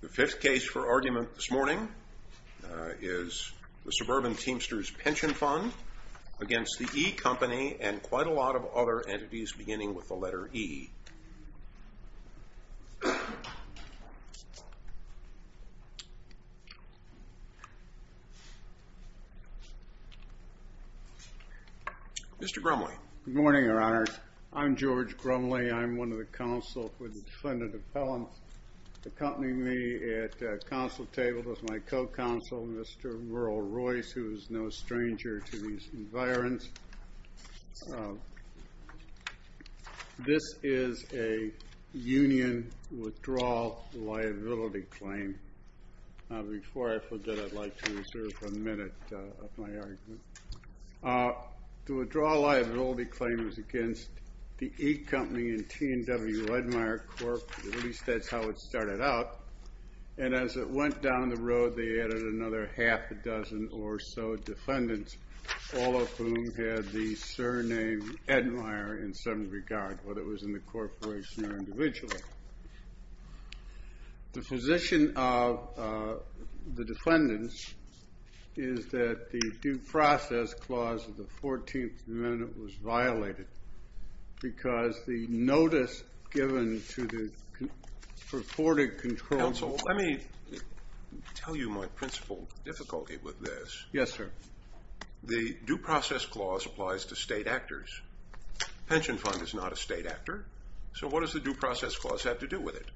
The fifth case for argument this morning is the Suburban Teamsters Pension Fund against The E Company and quite a lot of other entities beginning with the letter E. Mr. Grumley. Good morning, Your Honor. I'm George Grumley. I'm one of the counsel for the defendant appellant. Accompanying me at the counsel table is my co-counsel, Mr. Merle Royce, who is no stranger to these environs. This is a union withdrawal liability claim. Before I put that, I'd like to reserve a minute of my argument. The withdrawal liability claim is against The E Company and T&W Edmire Corp. At least that's how it started out. And as it went down the road, they added another half a dozen or so defendants, all of whom had the surname Edmire in some regard, whether it was in the corporation or individually. The position of the defendants is that the due process clause of the 14th Amendment was violated because the notice given to the purported control... Counsel, let me tell you my principal difficulty with this. Yes, sir. The due process clause applies to state actors. The pension fund is not a state actor. So what does the due process clause have to do with it?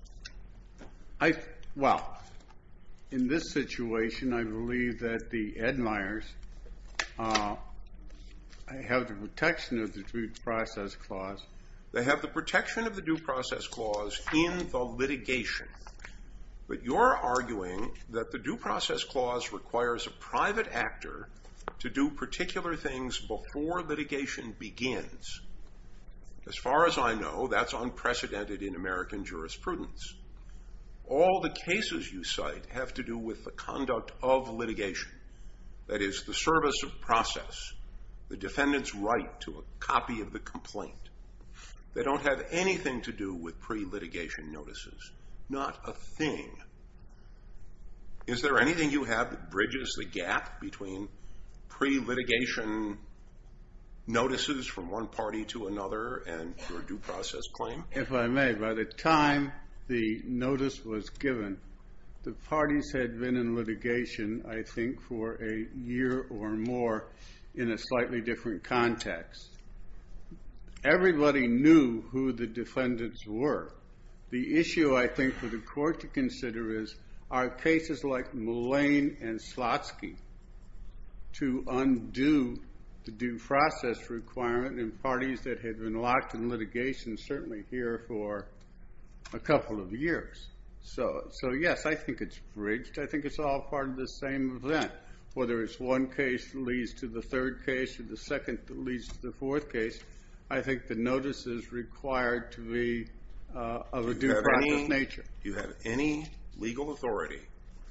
Well, in this situation, I believe that the Edmires have the protection of the due process clause. They have the protection of the due process clause in the litigation. But you're arguing that the due process clause requires a private actor to do particular things before litigation begins. As far as I know, that's unprecedented in American jurisprudence. All the cases you cite have to do with the conduct of litigation. That is, the service of process, the defendant's right to a copy of the complaint. They don't have anything to do with pre-litigation notices. Not a thing. Is there anything you have that bridges the gap between pre-litigation notices from one party to another and your due process claim? If I may, by the time the notice was given, the parties had been in litigation, I think, for a year or more in a slightly different context. Everybody knew who the defendants were. The issue, I think, for the court to consider is are cases like Mullane and Slotsky to undo the due process requirement in parties that had been locked in litigation certainly here for a couple of years. So, yes, I think it's bridged. I think it's all part of the same event. Whether it's one case that leads to the third case or the second that leads to the fourth case, I think the notice is required to be of a due process nature. Do you have any legal authority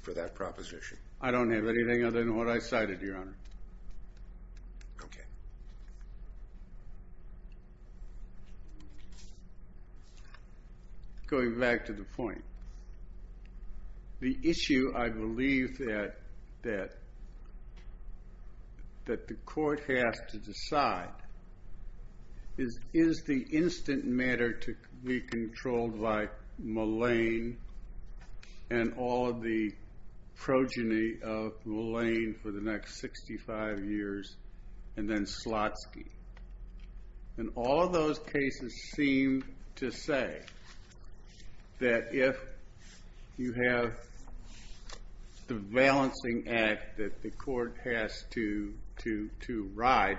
for that proposition? I don't have anything other than what I cited, Your Honor. Okay. Going back to the point, the issue, I believe, that the court has to decide is is the instant matter to be controlled by Mullane and all of the progeny of Mullane for the next 65 years and then Slotsky. And all of those cases seem to say that if you have the balancing act that the court has to ride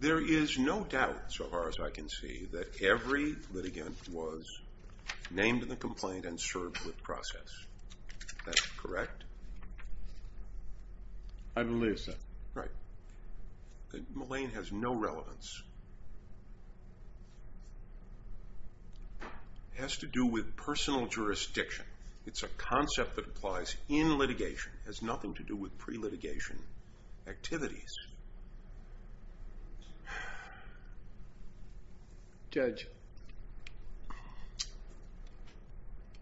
There is no doubt so far as I can see that every litigant was named in the complaint and served with process. Is that correct? I believe so. Right. Mullane has no relevance. It has to do with personal jurisdiction. It's a concept that applies in litigation. It has nothing to do with pre-litigation activities. Judge,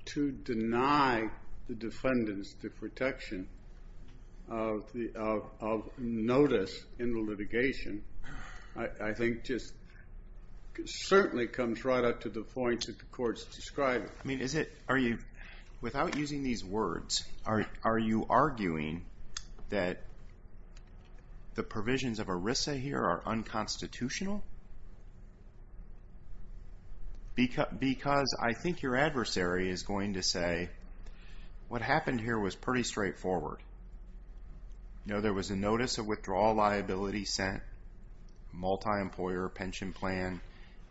to deny the defendants the protection of notice in the litigation, I think just certainly comes right up to the point that the court's describing. Without using these words, are you arguing that the provisions of ERISA here are unconstitutional? Because I think your adversary is going to say what happened here was pretty straightforward. There was a notice of withdrawal liability sent, multi-employer pension plan.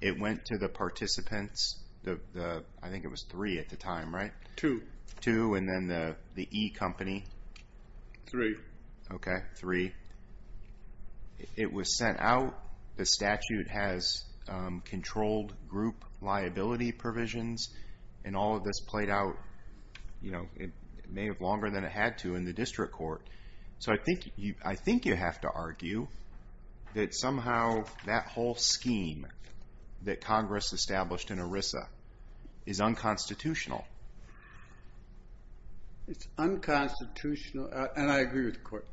It went to the participants. I think it was three at the time, right? Two. Two and then the e-company. Three. Okay, three. It was sent out. The statute has controlled group liability provisions. And all of this played out. It may have been longer than it had to in the district court. So I think you have to argue that somehow that whole scheme that Congress established in ERISA is unconstitutional. It's unconstitutional. And I agree with the court.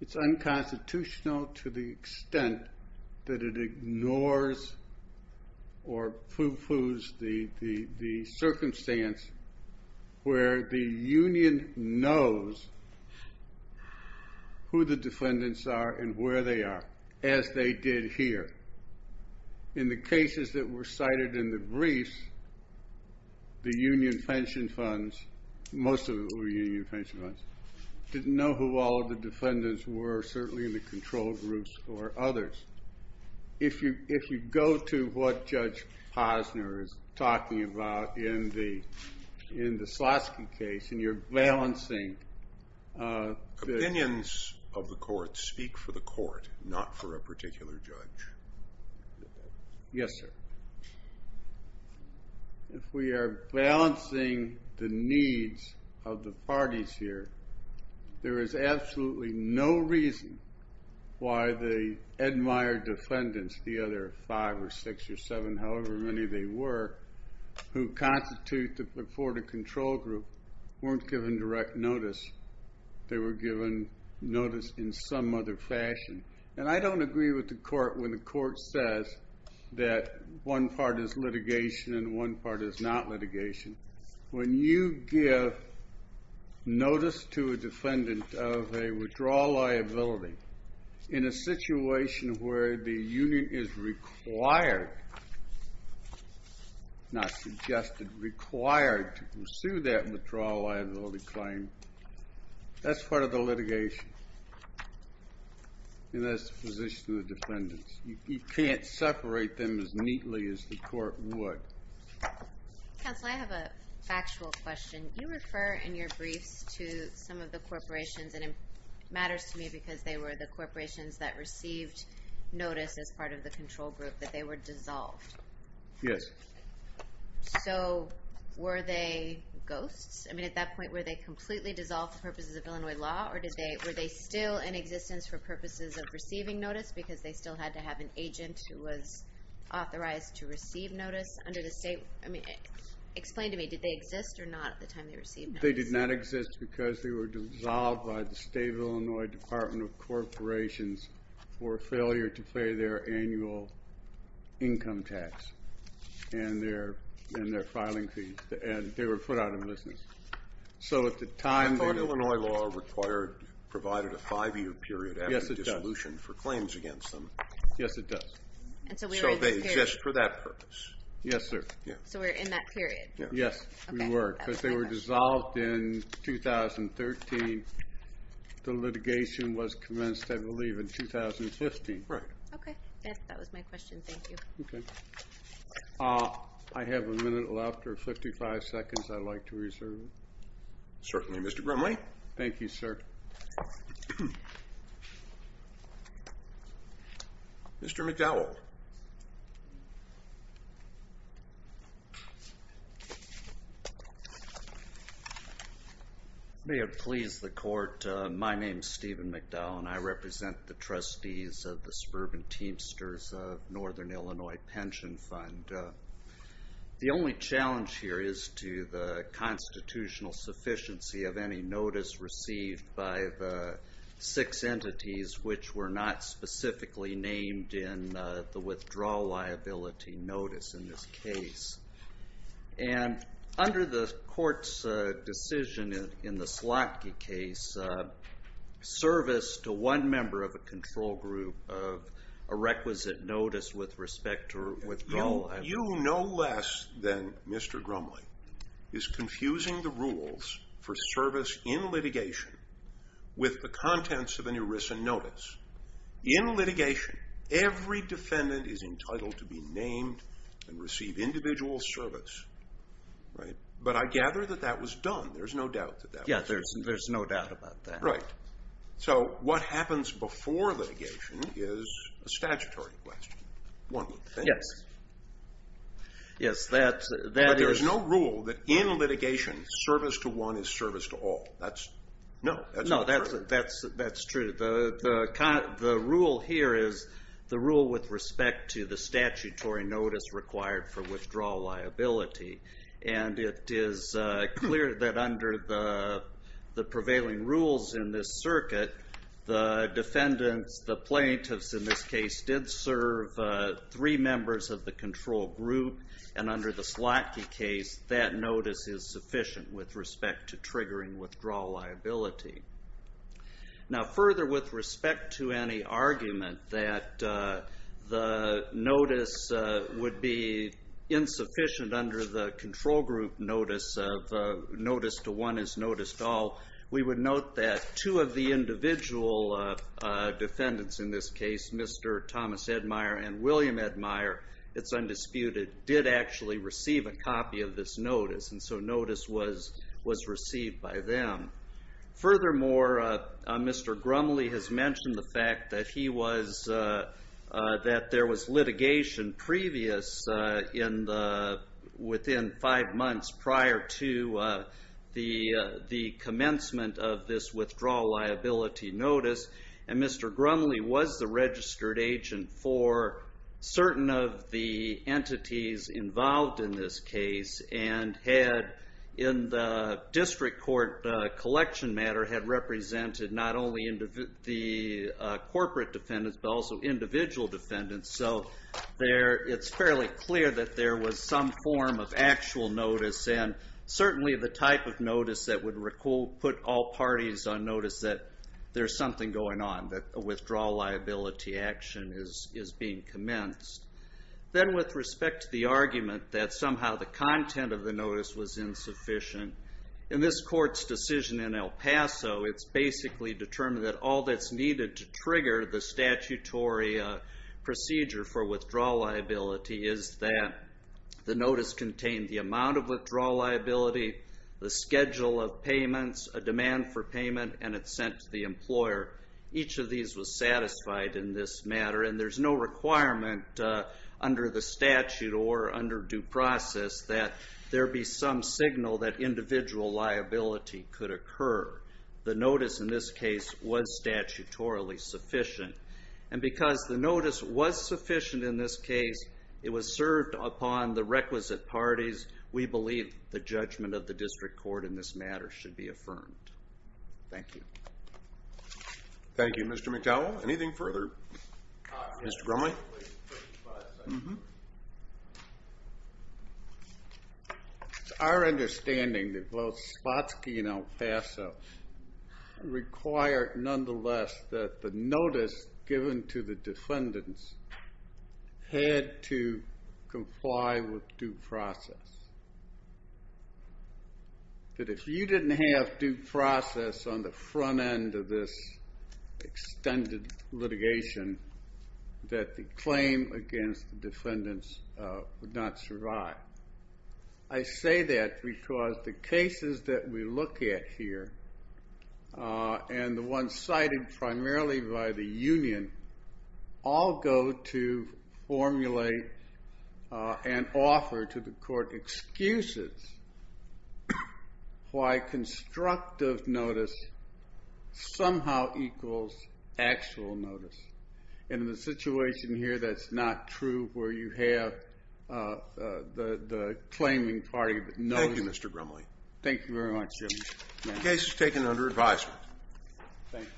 It's unconstitutional to the extent that it ignores or foo-foos the circumstance where the union knows who the defendants are and where they are, as they did here. In the cases that were cited in the briefs, the union pension funds, most of the union pension funds, didn't know who all of the defendants were, certainly in the control groups or others. If you go to what Judge Posner is talking about in the Slotsky case and you're balancing... Opinions of the court speak for the court, not for a particular judge. Yes, sir. If we are balancing the needs of the parties here, there is absolutely no reason why the Edmire defendants, the other five or six or seven, however many they were, who constitute the Florida control group, weren't given direct notice. They were given notice in some other fashion. And I don't agree with the court when the court says that one part is litigation and one part is not litigation. When you give notice to a defendant of a withdrawal liability in a situation where the union is required, not suggested, required to pursue that withdrawal liability claim, that's part of the litigation. And that's the position of the defendants. You can't separate them as neatly as the court would. Counsel, I have a factual question. You refer in your briefs to some of the corporations, and it matters to me because they were the corporations that received notice as part of the control group, that they were dissolved. Yes. So were they ghosts? I mean, at that point, were they completely dissolved for purposes of Illinois law, or were they still in existence for purposes of receiving notice because they still had to have an agent who was authorized to receive notice under the state? I mean, explain to me, did they exist or not at the time they received notice? They did not exist because they were dissolved by the state of Illinois Department of Corporations for failure to pay their annual income tax and their filing fees. And they were put out of business. I thought Illinois law provided a five-year period after dissolution for claims against them. Yes, it does. So they exist for that purpose. Yes, sir. So we're in that period. Yes, we were. When they were dissolved in 2013, the litigation was commenced, I believe, in 2015. Right. Okay. That was my question. Thank you. Okay. I have a minute left, or 55 seconds I'd like to reserve. Certainly, Mr. Grimley. Thank you, sir. Mr. McDowell. May it please the court, my name is Stephen McDowell, and I represent the trustees of the Sperb and Teamsters of Northern Illinois Pension Fund. The only challenge here is to the constitutional sufficiency of any notice received by the six entities which were not specifically named in the withdrawal liability notice in this case. And under the court's decision in the Slotkin case, service to one member of a control group of a requisite notice with respect to withdrawal liability. You, no less than Mr. Grimley, is confusing the rules for service in litigation with the contents of an ERISA notice. In litigation, every defendant is entitled to be named and receive individual service. But I gather that that was done. There's no doubt that that was done. Yeah, there's no doubt about that. Right. So what happens before litigation is a statutory question, one would think. Yes. Yes, that is. But there's no rule that in litigation, service to one is service to all. No, that's not true. No, that's true. The rule here is the rule with respect to the statutory notice required for withdrawal liability. And it is clear that under the prevailing rules in this circuit, the defendants, the plaintiffs in this case, did serve three members of the control group. And under the Slotkin case, that notice is sufficient with respect to triggering withdrawal liability. Now, further with respect to any argument that the notice would be insufficient under the control group notice of notice to one is notice to all, we would note that two of the individual defendants in this case, Mr. Thomas Edmire and William Edmire, it's undisputed, did actually receive a copy of this notice. And so notice was received by them. Furthermore, Mr. Grumley has mentioned the fact that there was litigation previous within five months prior to the commencement of this withdrawal liability notice. And Mr. Grumley was the registered agent for certain of the entities involved in this case and had, in the district court collection matter, had represented not only the corporate defendants but also individual defendants. So it's fairly clear that there was some form of actual notice. And certainly the type of notice that would put all parties on notice that there's something going on, that a withdrawal liability action is being commenced. Then with respect to the argument that somehow the content of the notice was insufficient, in this court's decision in El Paso, it's basically determined that all that's needed to trigger the statutory procedure for withdrawal liability is that the notice contained the amount of withdrawal liability, the schedule of payments, a demand for payment, and it's sent to the employer. Each of these was satisfied in this matter. And there's no requirement under the statute or under due process that there be some signal that individual liability could occur. The notice in this case was statutorily sufficient. And because the notice was sufficient in this case, it was served upon the requisite parties. We believe the judgment of the district court in this matter should be affirmed. Thank you. Thank you, Mr. McDowell. Anything further? Mr. Grumley? Mm-hmm. It's our understanding that both Spotsky and El Paso required, nonetheless, that the notice given to the defendants had to comply with due process. That if you didn't have due process on the front end of this extended litigation, that the claim against the defendants would not survive. I say that because the cases that we look at here and the ones cited primarily by the union all go to formulate and offer to the court excuses why constructive notice somehow equals actual notice. And in the situation here, that's not true where you have the claiming party notice. Thank you, Mr. Grumley. Thank you very much, Jim. The case is taken under advisement. Thank you.